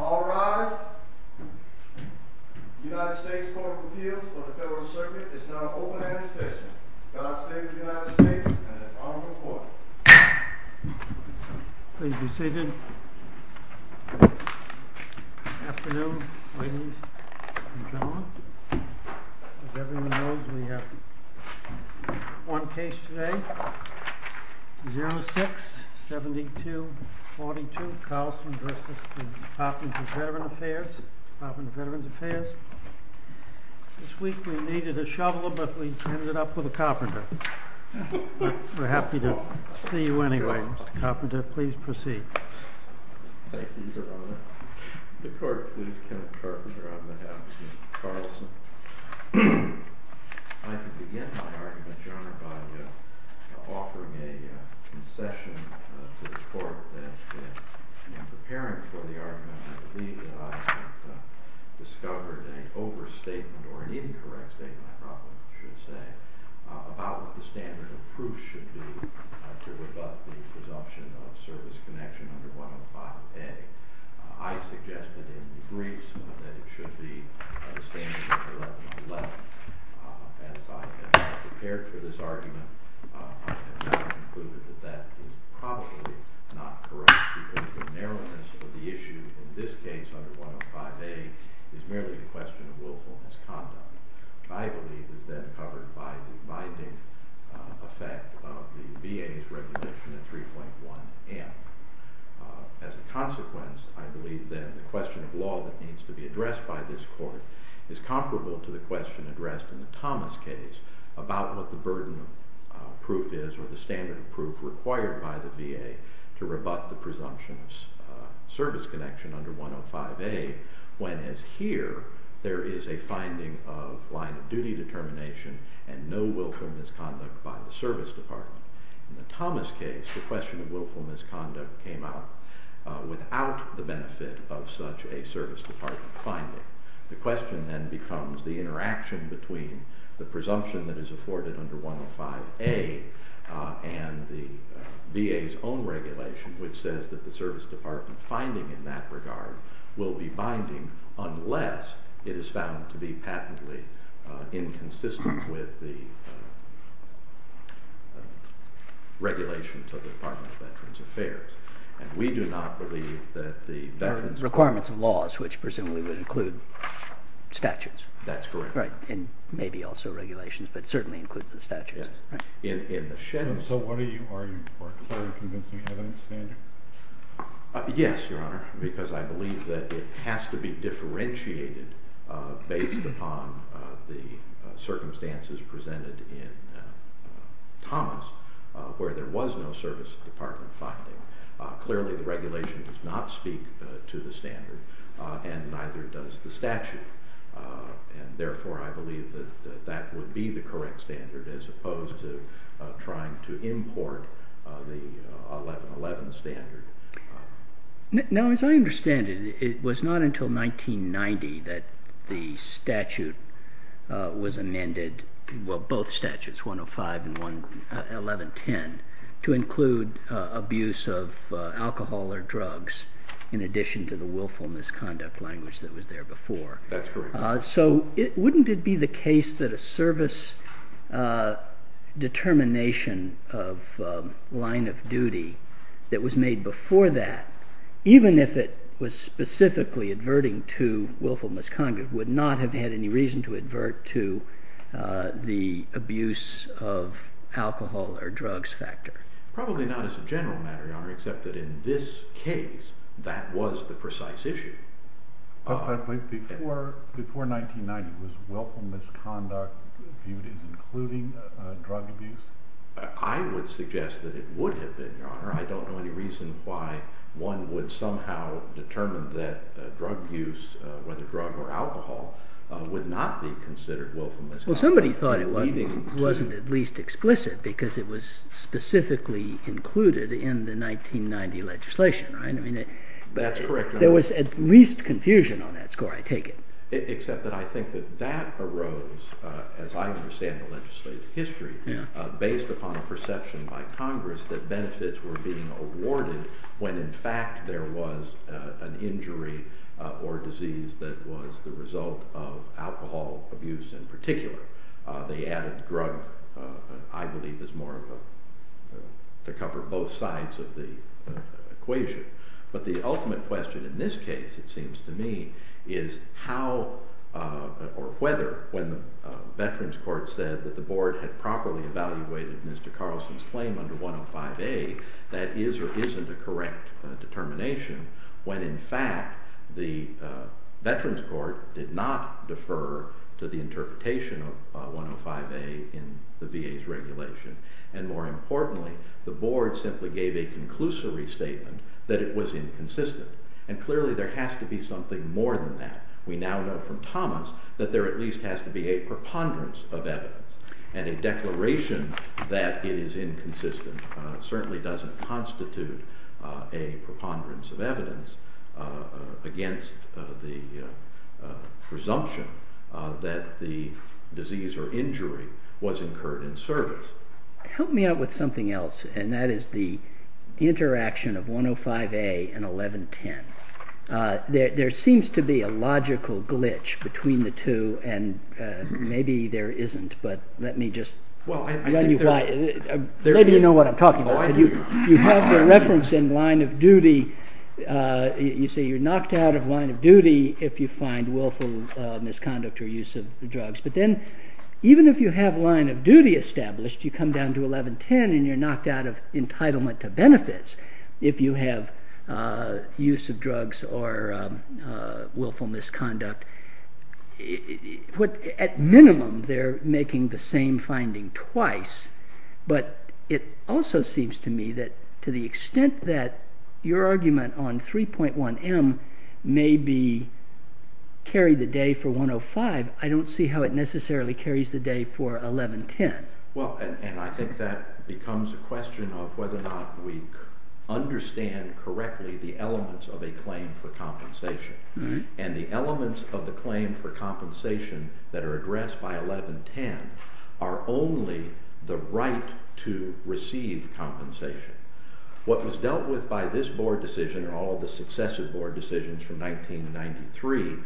All rise. The United States Court of Appeals for the Federal Circuit is now open and in session. God save the United States and its Honorable Court. Please be seated. Good afternoon ladies and gentlemen. As everyone knows we have one case today. 06-7242 Carlson v. Department of Veterans Affairs. This week we needed a shovel, but we ended up with a carpenter. We're happy to see you anyway. Mr. Carpenter, please proceed. Thank you, Your Honor. The court, please. Kenneth Carpenter on behalf of Mr. Carlson. I can begin my argument, Your Honor, by offering a concession to the court that in preparing for the argument I believe that I have discovered an overstatement or an incorrect statement, I probably should say, about what the standard of proof should be to rebut the presumption of service connection under 105A. I suggested in the briefs that it should be the standard of 1111. As I have prepared for this argument, I have now concluded that that is probably not correct because the narrowness of the issue in this case under 105A is merely a question of willfulness conduct. I believe it is then covered by the binding effect of the VA's recognition of 3.1M. As a consequence, I believe then the question of law that needs to be addressed by this court is comparable to the question addressed in the Thomas case about what the burden of proof is or the standard of proof required by the VA to rebut the presumption of service connection under 105A when, as here, there is a finding of line of duty determination and no willful misconduct by the service department. In the Thomas case, the question of willful misconduct came out without the benefit of such a service department finding. The question then becomes the interaction between the presumption that is afforded under 105A and the VA's own regulation, which says that the service department finding in that regard will be binding unless it is found to be patently inconsistent with the regulations of the Department of Veterans Affairs. And we do not believe that the veterans court Requirements of laws, which presumably would include statutes. That's correct. Right. And maybe also regulations, but certainly includes the statutes. Yes. Right. So what are you arguing for? Are you convincing evidence standard? Yes, Your Honor, because I believe that it has to be differentiated based upon the circumstances presented in Thomas where there was no service department finding. Clearly, the regulation does not speak to the standard and neither does the statute. And therefore, I believe that that would be the correct standard as opposed to trying to import the 1111 standard. Now, as I understand it, it was not until 1990 that the statute was amended, both statutes 105 and 1110, to include abuse of alcohol or drugs in addition to the willful misconduct language that was there before. That's correct. So wouldn't it be the case that a service determination of line of duty that was made before that, even if it was specifically adverting to willful misconduct, would not have had any reason to advert to the abuse of alcohol or drugs factor? Probably not as a general matter, Your Honor, except that in this case, that was the precise issue. Before 1990, was willful misconduct viewed as including drug abuse? I would suggest that it would have been, Your Honor. I don't know any reason why one would somehow determine that drug abuse, whether drug or alcohol, would not be considered willful misconduct. Well, somebody thought it wasn't at least explicit because it was specifically included in the 1990 legislation, right? That's correct. There was at least confusion on that score, I take it. Except that I think that that arose, as I understand the legislative history, based upon a perception by Congress that benefits were being awarded when in fact there was an injury or disease that was the result of alcohol abuse in particular. They added drug, I believe, to cover both sides of the equation. But the ultimate question in this case, it seems to me, is how or whether when the Veterans Court said that the Board had properly evaluated Mr. Carlson's claim under 105A, that is or isn't a correct determination when in fact the Veterans Court did not defer to the interpretation of 105A in the VA's regulation. And more importantly, the Board simply gave a conclusory statement that it was inconsistent. And clearly there has to be something more than that. We now know from Thomas that there at least has to be a preponderance of evidence. And a declaration that it is inconsistent certainly doesn't constitute a preponderance of evidence against the presumption that the disease or injury was incurred in service. Help me out with something else, and that is the interaction of 105A and 1110. There seems to be a logical glitch between the two. And maybe there isn't, but let me just run you by it. Maybe you know what I'm talking about. You have the reference in line of duty. You say you're knocked out of line of duty if you find willful misconduct or use of drugs. But then even if you have line of duty established, you come down to 1110 and you're knocked out of entitlement to benefits if you have use of drugs or willful misconduct. At minimum, they're making the same finding twice. But it also seems to me that to the extent that your argument on 3.1M may be carried the day for 105, I don't see how it necessarily carries the day for 1110. Well, and I think that becomes a question of whether or not we understand correctly the elements of a claim for compensation. And the elements of the claim for compensation that are addressed by 1110 are only the right to receive compensation. What was dealt with by this board decision and all of the successive board decisions from 1993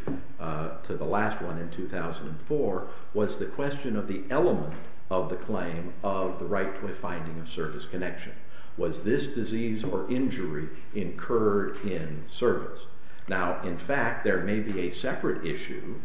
to the last one in 2004 was the question of the element of the claim of the right to a finding of service connection. Was this disease or injury incurred in service? Now, in fact, there may be a separate issue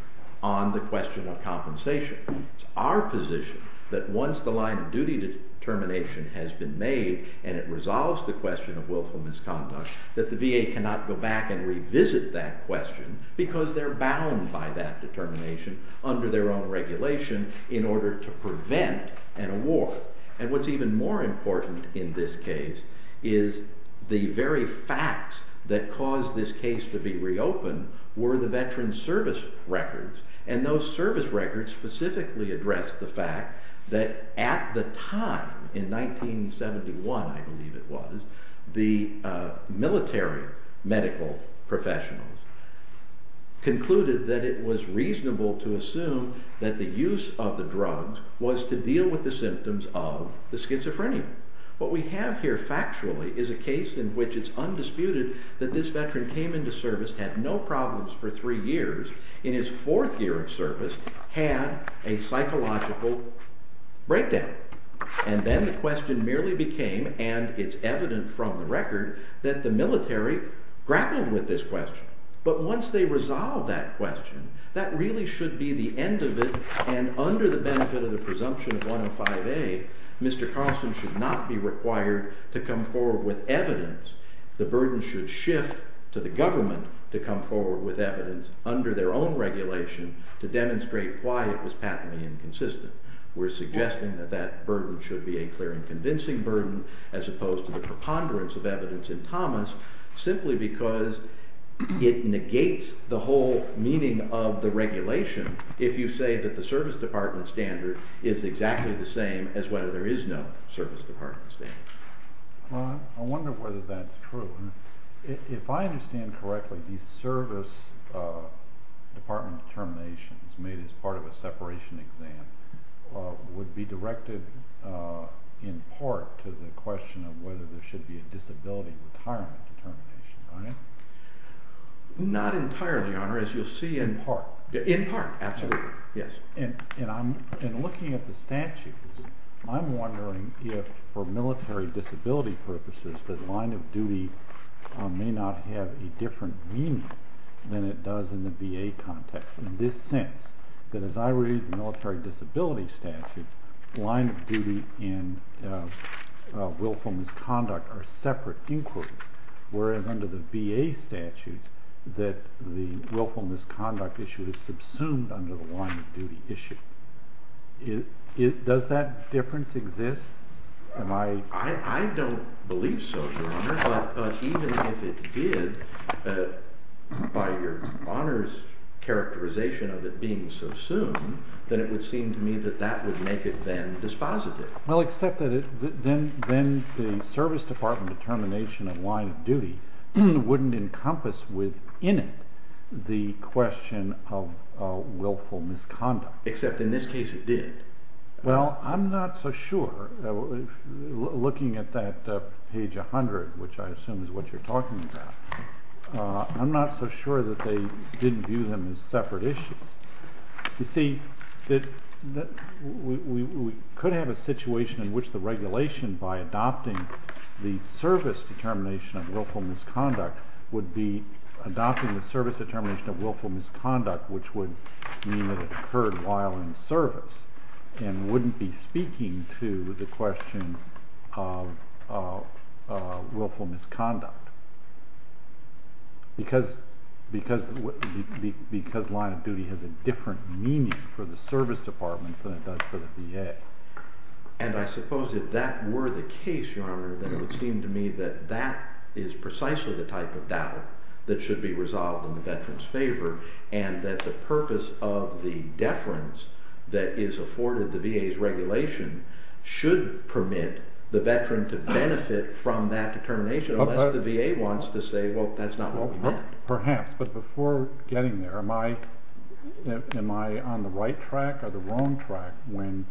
on the question of compensation. It's our position that once the line of duty determination has been made and it resolves the question of willful misconduct, that the VA cannot go back and revisit that question because they're bound by that determination under their own regulation in order to prevent an award. And what's even more important in this case is the very facts that caused this case to be reopened were the veteran's service records. And those service records specifically addressed the fact that at the time, in 1971 I believe it was, the military medical professionals concluded that it was reasonable to assume that the use of the drugs was to deal with the symptoms of the schizophrenia. What we have here factually is a case in which it's undisputed that this veteran came into service, had no problems for three years, in his fourth year of service had a psychological breakdown. And then the question merely became, and it's evident from the record, that the military grappled with this question. But once they resolved that question, that really should be the end of it, and under the benefit of the presumption of 105A, Mr. Carlson should not be required to come forward with evidence. The burden should shift to the government to come forward with evidence under their own regulation to demonstrate why it was patently inconsistent. We're suggesting that that burden should be a clear and convincing burden as opposed to the preponderance of evidence in Thomas simply because it negates the whole meaning of the regulation if you say that the service department standard is exactly the same as whether there is no service department standard. I wonder whether that's true. If I understand correctly, the service department determinations made as part of a separation exam would be directed in part to the question of whether there should be a disability retirement determination, right? Not entirely, Your Honor, as you'll see in part. In part, absolutely. And looking at the statutes, I'm wondering if for military disability purposes the line of duty may not have a different meaning than it does in the VA context. In this sense, that as I read the military disability statute, line of duty and willful misconduct are separate inquiries, whereas under the VA statutes that the willful misconduct issue is subsumed under the line of duty issue. Does that difference exist? I don't believe so, Your Honor. But even if it did, by Your Honor's characterization of it being subsumed, then it would seem to me that that would make it then dispositive. Well, except that then the service department determination of line of duty wouldn't encompass within it the question of willful misconduct. Except in this case it did. Well, I'm not so sure. Looking at that page 100, which I assume is what you're talking about, I'm not so sure that they didn't view them as separate issues. You see, we could have a situation in which the regulation by adopting the service determination of willful misconduct would be adopting the service determination of willful misconduct, which would mean that it occurred while in service, and wouldn't be speaking to the question of willful misconduct. Because line of duty has a different meaning for the service departments than it does for the VA. And I suppose if that were the case, Your Honor, then it would seem to me that that is precisely the type of doubt that should be resolved in the veteran's favor, and that the purpose of the deference that is afforded the VA's regulation should permit the veteran to benefit from that determination, unless the VA wants to say, well, that's not what we meant. Perhaps. But before getting there, am I on the right track or the wrong track when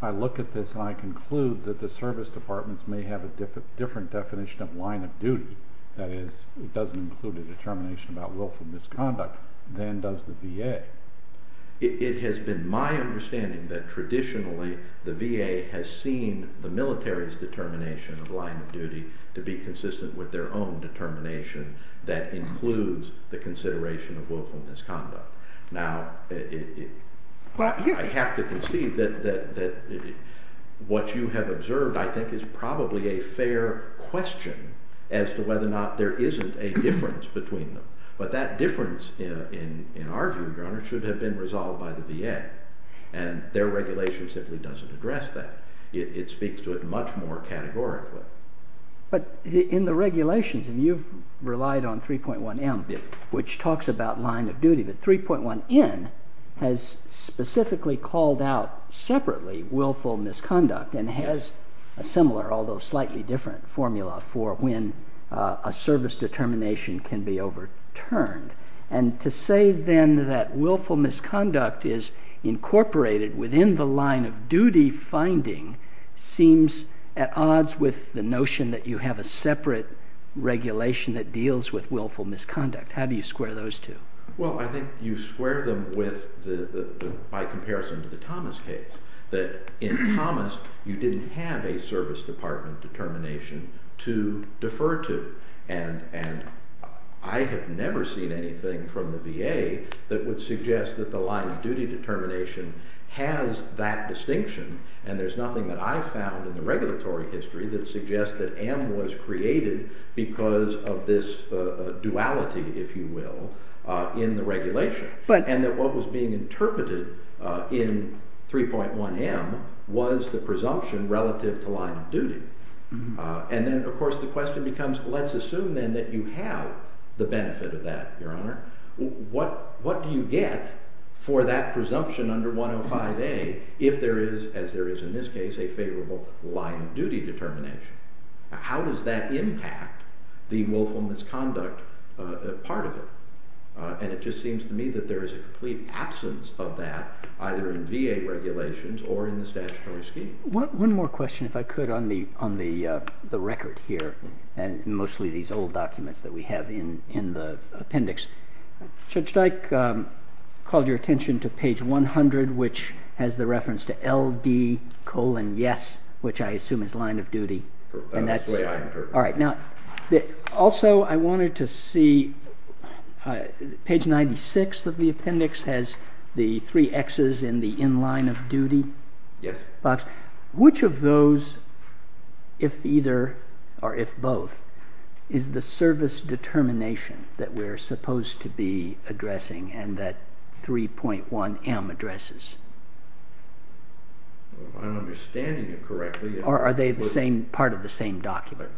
I look at this and I conclude that the service departments may have a different definition of line of duty, that is, it doesn't include a determination about willful misconduct, than does the VA? It has been my understanding that traditionally the VA has seen the military's determination of line of duty to be consistent with their own determination that includes the consideration of willful misconduct. Now, I have to concede that what you have observed, I think, is probably a fair question as to whether or not there isn't a difference between them. But that difference, in our view, Your Honor, should have been resolved by the VA, and their regulation simply doesn't address that. It speaks to it much more categorically. But in the regulations, and you've relied on 3.1M, which talks about line of duty, but 3.1N has specifically called out separately willful misconduct and has a similar, although slightly different, formula for when a service determination can be overturned. And to say then that willful misconduct is incorporated within the line of duty finding seems at odds with the notion that you have a separate regulation that deals with willful misconduct. How do you square those two? Well, I think you square them by comparison to the Thomas case. In Thomas, you didn't have a service department determination to defer to. And I have never seen anything from the VA that would suggest that the line of duty determination has that distinction, and there's nothing that I've found in the regulatory history that suggests that M was created because of this duality, if you will, in the regulation, and that what was being interpreted in 3.1M was the presumption relative to line of duty. And then, of course, the question becomes, let's assume then that you have the benefit of that, Your Honor. What do you get for that presumption under 105A if there is, as there is in this case, a favorable line of duty determination? How does that impact the willful misconduct part of it? And it just seems to me that there is a complete absence of that, either in VA regulations or in the statutory scheme. One more question, if I could, on the record here, and mostly these old documents that we have in the appendix. Judge Dyke called your attention to page 100, which has the reference to LD colon yes, which I assume is line of duty. That's the way I interpret it. Also, I wanted to see page 96 of the appendix has the three X's in the in-line of duty box. Which of those, if either or if both, is the service determination that we're supposed to be addressing and that 3.1M addresses? I'm understanding it correctly. Or are they the same part of the same document?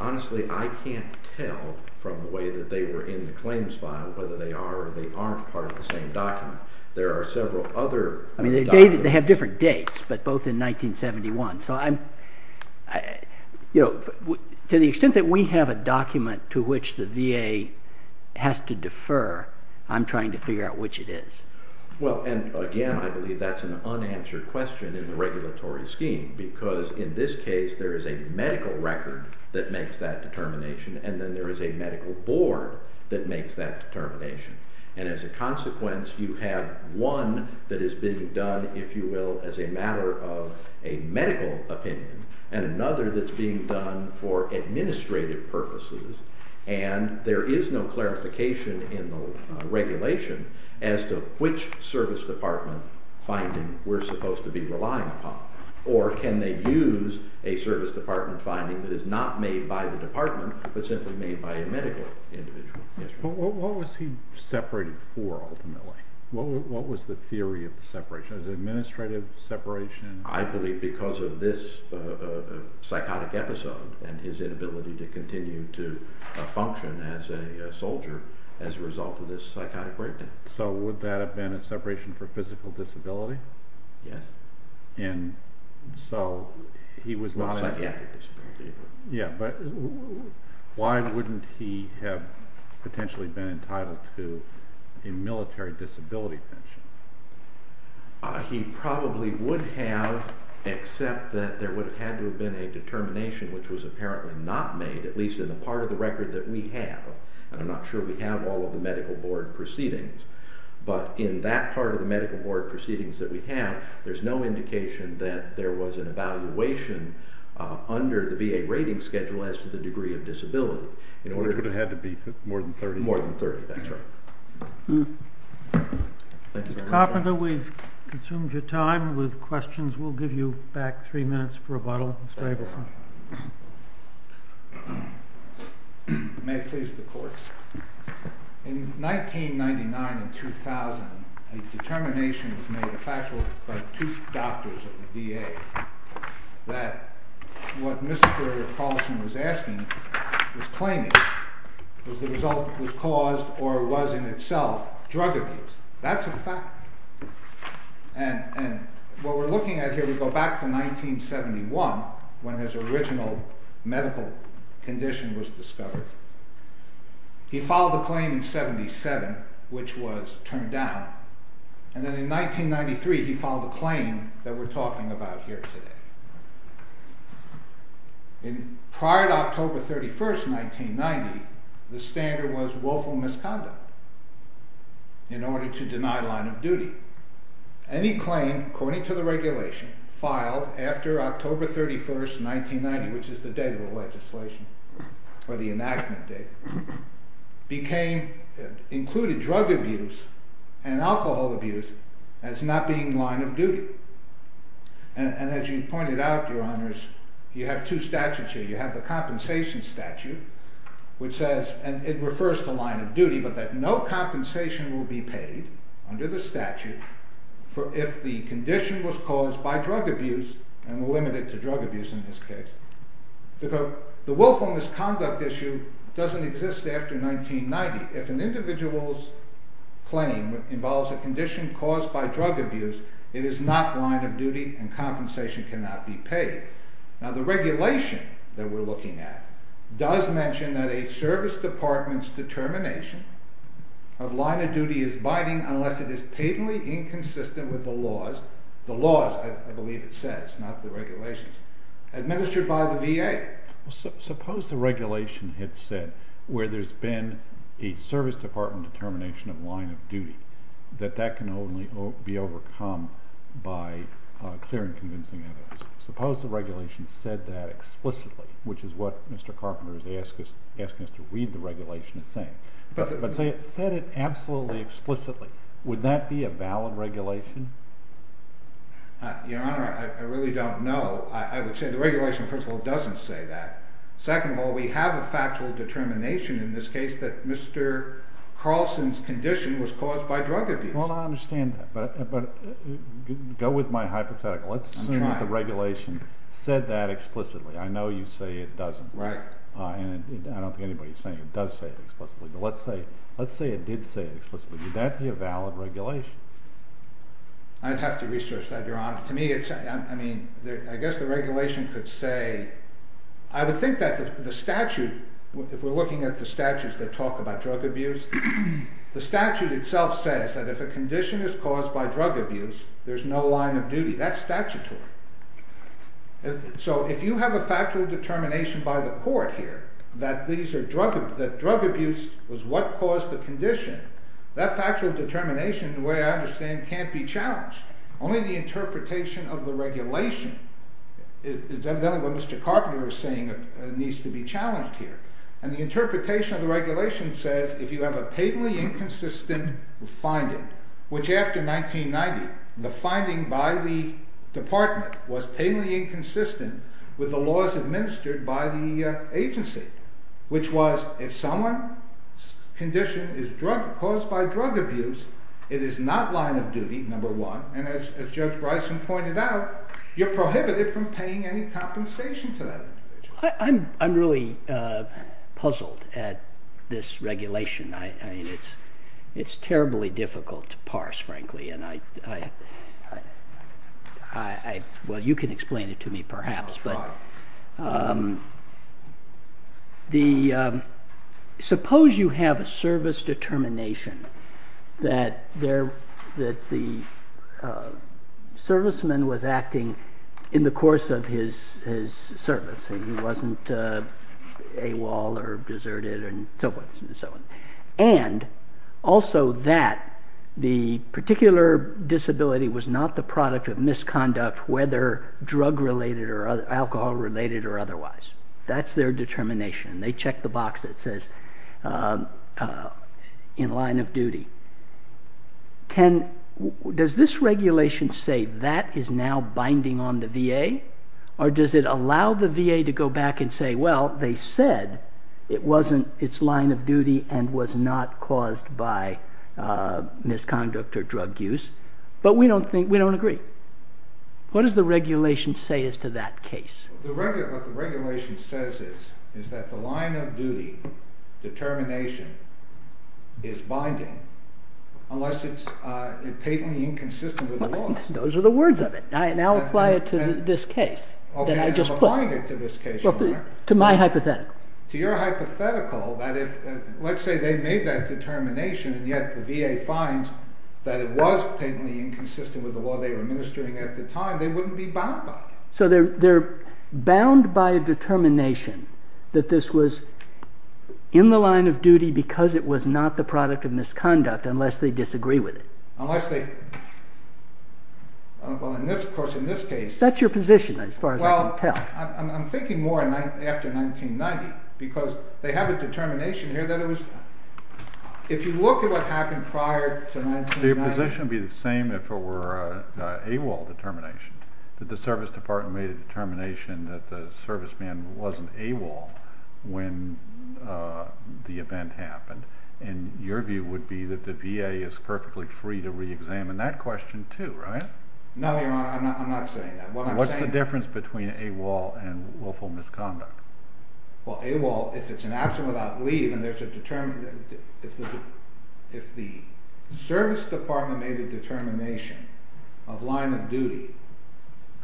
Honestly, I can't tell from the way that they were in the claims file whether they are or they aren't part of the same document. There are several other documents. They have different dates, but both in 1971. To the extent that we have a document to which the VA has to defer, I'm trying to figure out which it is. Again, I believe that's an unanswered question in the regulatory scheme, because in this case there is a medical record that makes that determination, and then there is a medical board that makes that determination. And as a consequence, you have one that is being done, if you will, as a matter of a medical opinion, and another that's being done for administrative purposes, and there is no clarification in the regulation as to which service department finding we're supposed to be relying upon. Or can they use a service department finding that is not made by the department, but simply made by a medical individual? What was he separated for ultimately? What was the theory of the separation? Was it administrative separation? I believe because of this psychotic episode and his inability to continue to function as a soldier as a result of this psychotic breakdown. So would that have been a separation for physical disability? Yes. So he was not... Psychiatric disability. Yeah, but why wouldn't he have potentially been entitled to a military disability pension? He probably would have, except that there would have had to have been a determination which was apparently not made, at least in the part of the record that we have. And I'm not sure we have all of the medical board proceedings, but in that part of the medical board proceedings that we have, there's no indication that there was an evaluation under the VA rating schedule as to the degree of disability. Which would have had to be more than 30. More than 30, that's right. Thank you very much. Mr. Carpenter, we've consumed your time with questions. We'll give you back three minutes for rebuttal. Mr. Abelson. In 1999 and 2000, a determination was made by two doctors at the VA that what Mr. Carpenter was asking, was claiming, was the result was caused or was in itself drug abuse. That's a fact. And what we're looking at here, we go back to 1971, when his original medical condition was discovered. He filed a claim in 77, which was turned down. And then in 1993, he filed a claim that we're talking about here today. Prior to October 31st, 1990, the standard was willful misconduct in order to deny line of duty. And he claimed, according to the regulation, filed after October 31st, 1990, which is the date of the legislation, or the enactment date, included drug abuse and alcohol abuse as not being line of duty. And as you pointed out, your honors, you have two statutes here. You have the compensation statute, which says, and it refers to line of duty, but that no compensation will be paid under the statute if the condition was caused by drug abuse, and limited to drug abuse in this case. The willful misconduct issue doesn't exist after 1990. If an individual's claim involves a condition caused by drug abuse, it is not line of duty and compensation cannot be paid. Now the regulation that we're looking at does mention that a service department's determination of line of duty is binding unless it is patently inconsistent with the laws. I believe it says, not the regulations. Administered by the VA. Suppose the regulation had said where there's been a service department determination of line of duty that that can only be overcome by clear and convincing evidence. Suppose the regulation said that explicitly, which is what Mr. Carpenter is asking us to read the regulation as saying. But say it said it absolutely explicitly. Would that be a valid regulation? Your Honor, I really don't know. I would say the regulation, first of all, doesn't say that. Second of all, we have a factual determination in this case that Mr. Carlson's condition was caused by drug abuse. Well, I understand that. But go with my hypothetical. Let's assume that the regulation said that explicitly. I know you say it doesn't. Right. And I don't think anybody's saying it does say it explicitly. But let's say it did say it explicitly. Would that be a valid regulation? I'd have to research that, Your Honor. I guess the regulation could say, I would think that the statute, if we're looking at the statutes that talk about drug abuse, the statute itself says that if a condition is caused by drug abuse, there's no line of duty. That's statutory. So if you have a factual determination by the court here that drug abuse was what caused the condition, that factual determination, the way I understand it, can't be challenged. Only the interpretation of the regulation, it's evident what Mr. Carpenter is saying, needs to be challenged here. And the interpretation of the regulation says if you have a patently inconsistent finding, which after 1990, the finding by the department was patently inconsistent with the laws administered by the agency, which was if someone's condition is drug, caused by drug abuse, it is not line of duty, number one, and as Judge Bryson pointed out, you're prohibited from paying any compensation to that individual. I'm really puzzled at this regulation. I mean, it's terribly difficult to parse, frankly, and I, well, you can explain it to me, perhaps. I'll try. Well, suppose you have a service determination that the serviceman was acting in the course of his service. He wasn't AWOL or deserted and so forth and so on. And also that the particular disability was not the product of misconduct, whether drug related or alcohol related or otherwise. That's their determination. They check the box that says in line of duty. Does this regulation say that is now binding on the VA or does it allow the VA to go back and say, well, they said it wasn't its line of duty and was not caused by misconduct or drug use, but we don't agree. What does the regulation say as to that case? What the regulation says is that the line of duty determination is binding unless it's patently inconsistent with the laws. Those are the words of it. I now apply it to this case that I just put. To my hypothetical. To your hypothetical that if, let's say they made that determination and yet the VA finds that it was patently inconsistent with the law they were administering at the time, they wouldn't be bound by it. So they're bound by a determination that this was in the line of duty because it was not the product of misconduct unless they disagree with it. Unless they, well, in this, of course, in this case. That's your position as far as I can tell. I'm thinking more after 1990 because they have a determination here that it was, if you look at what happened prior to 1990. Your position would be the same if it were an AWOL determination, that the service department made a determination that the serviceman wasn't AWOL when the event happened. And your view would be that the VA is perfectly free to reexamine that question too, right? No, Your Honor, I'm not saying that. What's the difference between AWOL and willful misconduct? Well, AWOL, if it's an absent without leave and there's a determination, if the service department made a determination of line of duty,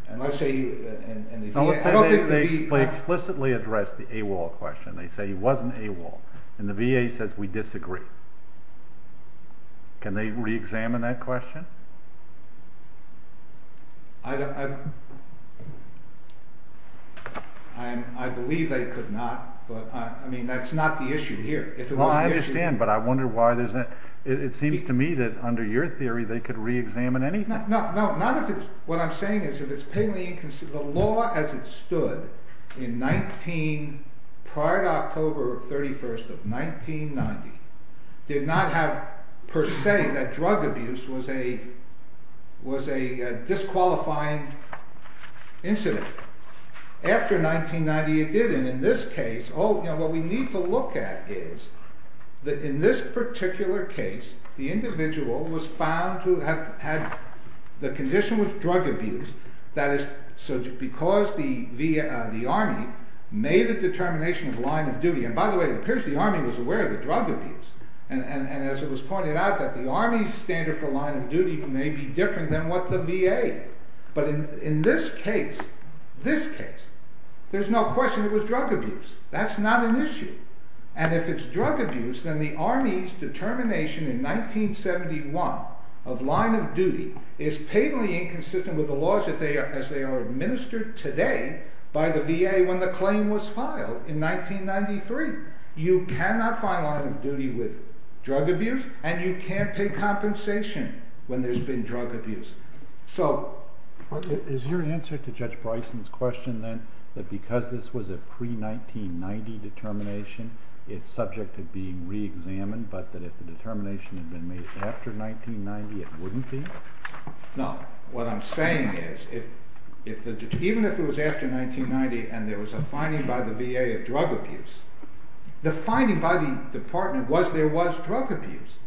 and let's say, and the VA. They explicitly address the AWOL question. They say he wasn't AWOL. And the VA says we disagree. Can they reexamine that question? I believe they could not, but I mean, that's not the issue here. Well, I understand, but I wonder why there's not, it seems to me that under your theory, they could reexamine anything. No, not if it's, what I'm saying is if it's painfully inconsistent, the law as it stood in 19, prior to October 31st of 1990, did not have per se that drug abuse was a disqualifying incident. After 1990, it didn't. In this case, what we need to look at is that in this particular case, the individual was found to have had the condition with drug abuse, that is, because the Army made a determination of line of duty. And by the way, it appears the Army was aware of the drug abuse. And as it was pointed out, that the Army's standard for line of duty may be different than what the VA. But in this case, this case, there's no question it was drug abuse. That's not an issue. And if it's drug abuse, then the Army's determination in 1971 of line of duty is painfully inconsistent with the laws as they are administered today by the VA when the claim was filed in 1993. You cannot find line of duty with drug abuse, and you can't pay compensation when there's been drug abuse. Is your answer to Judge Bryson's question, then, that because this was a pre-1990 determination, it's subject to being reexamined, but that if the determination had been made after 1990, it wouldn't be? No. What I'm saying is, even if it was after 1990 and there was a finding by the VA of drug abuse, the finding by the Department was there was drug abuse.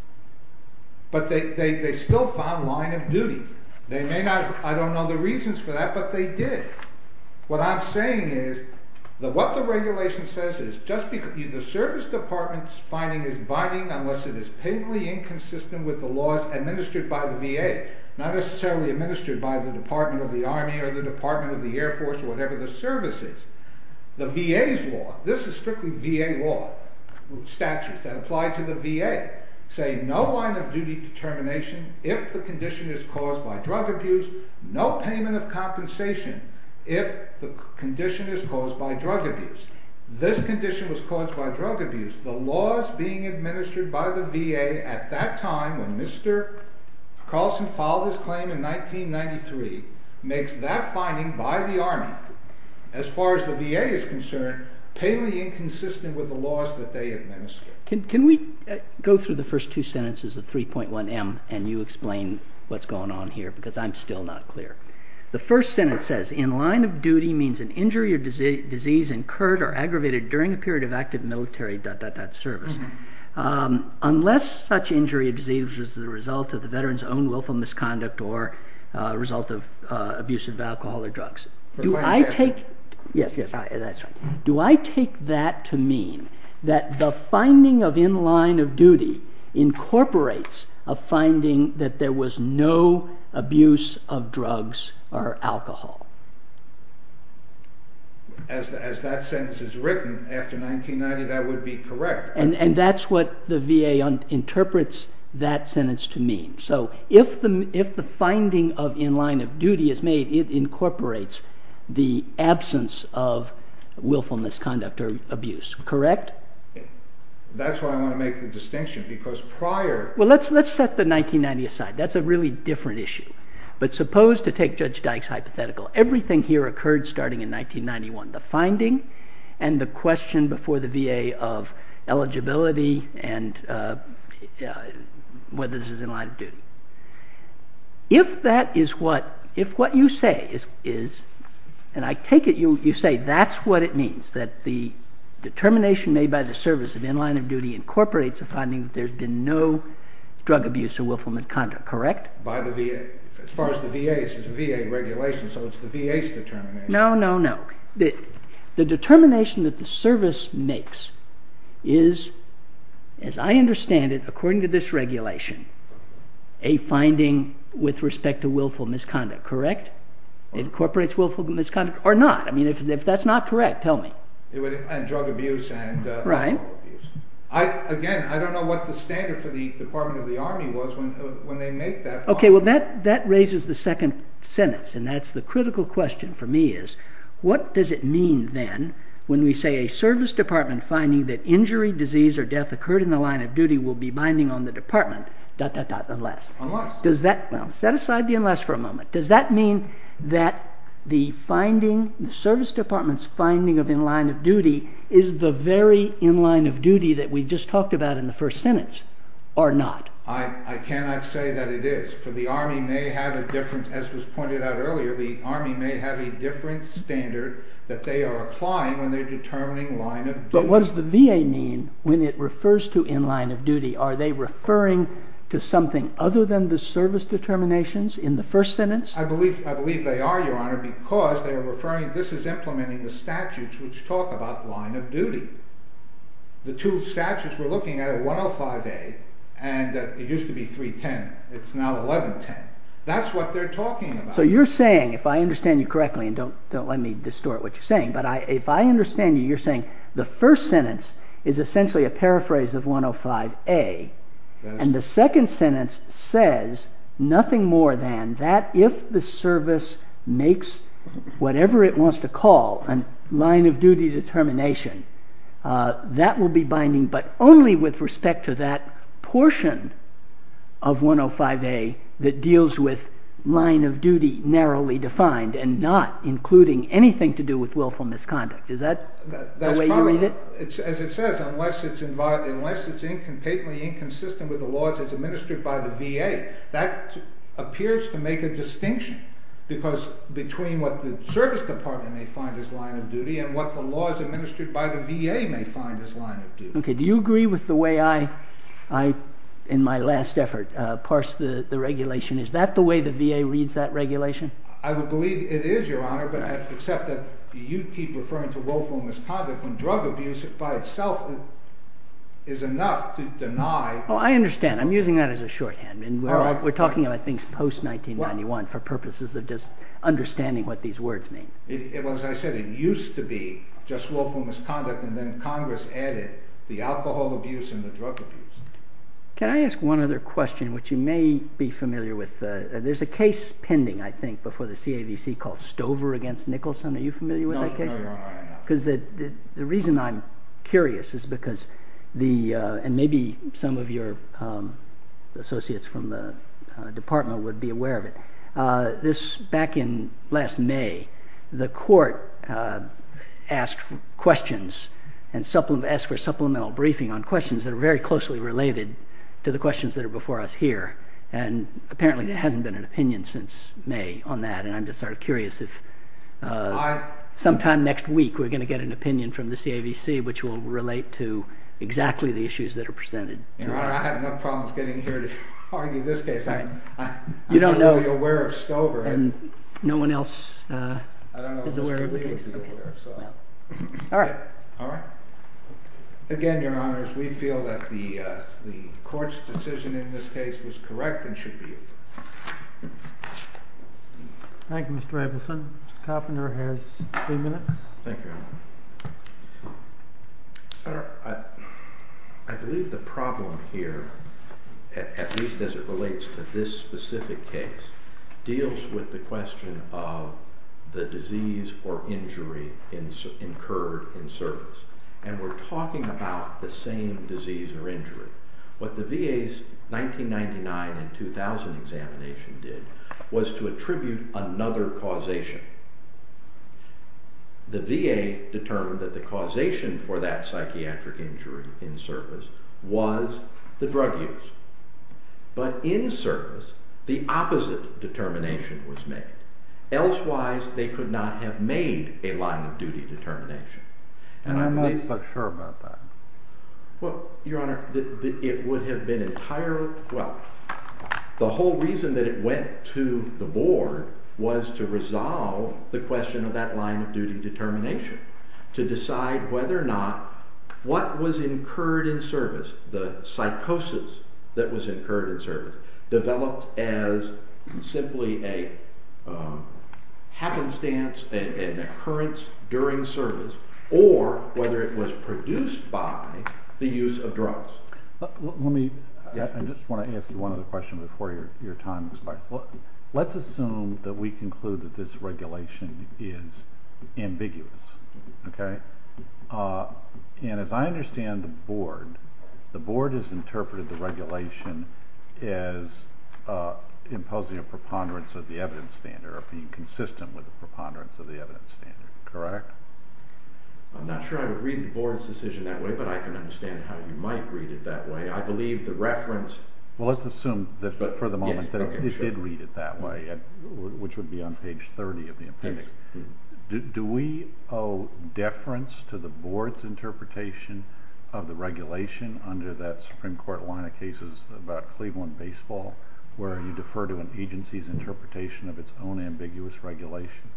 But they still found line of duty. I don't know the reasons for that, but they did. What I'm saying is that what the regulation says is, the Service Department's finding is binding unless it is painfully inconsistent with the laws administered by the VA. Not necessarily administered by the Department of the Army or the Department of the Air Force or whatever the Service is. The VA's law, this is strictly VA law, statutes that apply to the VA, say no line of duty determination if the condition is caused by drug abuse, no payment of compensation if the condition is caused by drug abuse. This condition was caused by drug abuse. The laws being administered by the VA at that time, when Mr. Carlson filed his claim in 1993, makes that finding by the Army, as far as the VA is concerned, painfully inconsistent with the laws that they administer. Can we go through the first two sentences of 3.1M and you explain what's going on here? Because I'm still not clear. The first sentence says, in line of duty means an injury or disease incurred or aggravated during a period of active military service. Unless such injury or disease was the result of the veteran's own willful misconduct or result of abuse of alcohol or drugs. Do I take that to mean that the finding of in line of duty incorporates a finding that there was no abuse of drugs or alcohol? As that sentence is written, after 1990 that would be correct. And that's what the VA interprets that sentence to mean. So if the finding of in line of duty is made, it incorporates the absence of willful misconduct or abuse, correct? That's why I want to make the distinction because prior... Well, let's set the 1990 aside. That's a really different issue. But suppose to take Judge Dyke's hypothetical, everything here occurred starting in 1991. The finding and the question before the VA of eligibility and whether this is in line of duty. If that is what, if what you say is, and I take it you say that's what it means, that the determination made by the service of in line of duty incorporates a finding that there's been no drug abuse or willful misconduct, correct? As far as the VA, it's a VA regulation, so it's the VA's determination. No, no, no. The determination that the service makes is, as I understand it, according to this regulation, a finding with respect to willful misconduct, correct? It incorporates willful misconduct or not. I mean, if that's not correct, tell me. And drug abuse and alcohol abuse. Again, I don't know what the standard for the Department of the Army was when they make that finding. Okay, well that raises the second sentence, and that's the critical question for me is, what does it mean then when we say a service department finding that injury, disease, or death occurred in the line of duty will be binding on the department, dot, dot, dot, unless? Unless. Well, set aside the unless for a moment. Does that mean that the finding, the service department's finding of in line of duty, is the very in line of duty that we just talked about in the first sentence, or not? I cannot say that it is, for the Army may have a different, as was pointed out earlier, the Army may have a different standard that they are applying when they're determining line of duty. But what does the VA mean when it refers to in line of duty? Are they referring to something other than the service determinations in the first sentence? I believe they are, Your Honor, because they are referring, this is implementing the statutes which talk about line of duty. The two statutes we're looking at are 105A, and it used to be 310. It's now 1110. That's what they're talking about. So you're saying, if I understand you correctly, and don't let me distort what you're saying, but if I understand you, you're saying the first sentence is essentially a paraphrase of 105A, and the second sentence says nothing more than that if the service makes whatever it wants to call a line of duty determination, that will be binding, but only with respect to that portion of 105A that deals with line of duty narrowly defined, and not including anything to do with willful misconduct. Is that the way you read it? As it says, unless it's patently inconsistent with the laws as administered by the VA, that appears to make a distinction between what the service department may find as line of duty and what the laws administered by the VA may find as line of duty. Okay. Do you agree with the way I, in my last effort, parsed the regulation? Is that the way the VA reads that regulation? I would believe it is, Your Honor, but I accept that you keep referring to willful misconduct when drug abuse by itself is enough to deny... Oh, I understand. I'm using that as a shorthand. All right. We're talking about things post-1991 for purposes of just understanding what these words mean. Well, as I said, it used to be just willful misconduct, and then Congress added the alcohol abuse and the drug abuse. Can I ask one other question, which you may be familiar with? There's a case pending, I think, before the CAVC called Stover v. Nicholson. Are you familiar with that case? No, I'm not. Because the reason I'm curious is because the—and maybe some of your associates from the department would be aware of it. This—back in last May, the court asked questions and asked for a supplemental briefing on questions that are very closely related to the questions that are before us here, and apparently there hasn't been an opinion since May on that, and I'm just sort of curious if sometime next week we're going to get an opinion from the CAVC which will relate to exactly the issues that are presented. Your Honor, I have no problem getting here to argue this case. You don't know. I'm only aware of Stover. And no one else is aware of the case. I don't know if Mr. Lee would be aware of Stover. All right. All right. Again, Your Honors, we feel that the court's decision in this case was correct and should be affirmed. Thank you, Mr. Abelson. Mr. Koppiner has three minutes. Thank you. I believe the problem here, at least as it relates to this specific case, deals with the question of the disease or injury incurred in service. And we're talking about the same disease or injury. What the VA's 1999 and 2000 examination did was to attribute another causation. The VA determined that the causation for that psychiatric injury in service was the drug use. But in service, the opposite determination was made. Elsewise, they could not have made a line-of-duty determination. And I'm not so sure about that. Well, Your Honor, it would have been entirely— well, the whole reason that it went to the board was to resolve the question of that line-of-duty determination, to decide whether or not what was incurred in service, developed as simply a happenstance, an occurrence during service, or whether it was produced by the use of drugs. Let me—I just want to ask you one other question before your time expires. Let's assume that we conclude that this regulation is ambiguous. And as I understand the board, the board has interpreted the regulation as imposing a preponderance of the evidence standard, or being consistent with a preponderance of the evidence standard, correct? I'm not sure I would read the board's decision that way, but I can understand how you might read it that way. I believe the reference— Well, let's assume for the moment that it did read it that way, which would be on page 30 of the appendix. Do we owe deference to the board's interpretation of the regulation under that Supreme Court line of cases about Cleveland baseball, where you defer to an agency's interpretation of its own ambiguous regulation?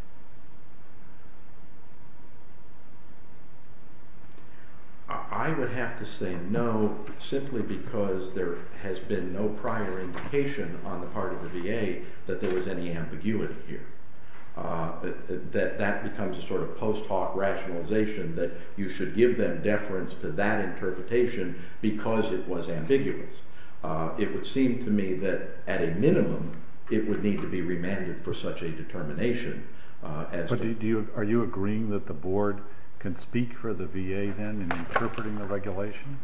I would have to say no, simply because there has been no prior indication on the part of the VA that there was any ambiguity here. That becomes a sort of post-hoc rationalization that you should give them deference to that interpretation because it was ambiguous. It would seem to me that at a minimum it would need to be remanded for such a determination. Are you agreeing that the board can speak for the VA then in interpreting the regulation?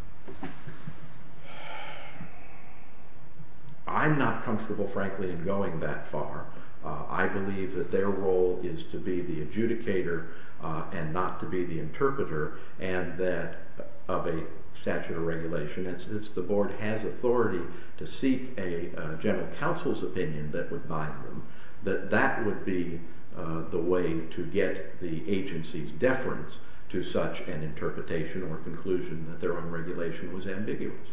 I'm not comfortable, frankly, in going that far. I believe that their role is to be the adjudicator and not to be the interpreter, and that of a statute of regulation, and since the board has authority to seek a general counsel's opinion that would bind them, that that would be the way to get the agency's deference to such an interpretation or conclusion that their own regulation was ambiguous,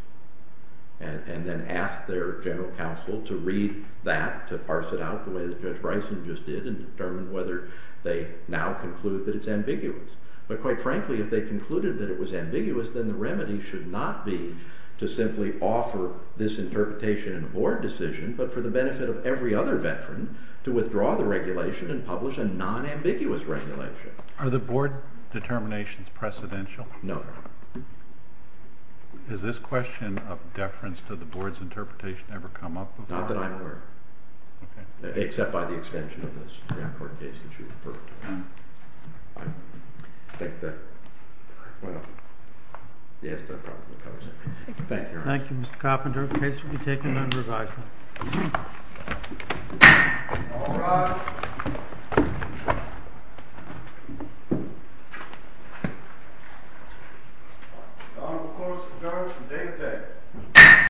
and then ask their general counsel to read that, to parse it out the way that Judge Bryson just did, and determine whether they now conclude that it's ambiguous. But quite frankly, if they concluded that it was ambiguous, then the remedy should not be to simply offer this interpretation in a board decision, but for the benefit of every other veteran to withdraw the regulation and publish a non-ambiguous regulation. Are the board determinations precedential? No. Has this question of deference to the board's interpretation ever come up before? Not that I'm aware of. Okay. Except by the extension of the Stanford case that you referred to. Okay. I think that, well, yes, that probably covers it. Thank you, Your Honor. Thank you, Mr. Coffin. The case will be taken under advisement. All rise. The Honorable Clause of the Jurisdiction, David Day.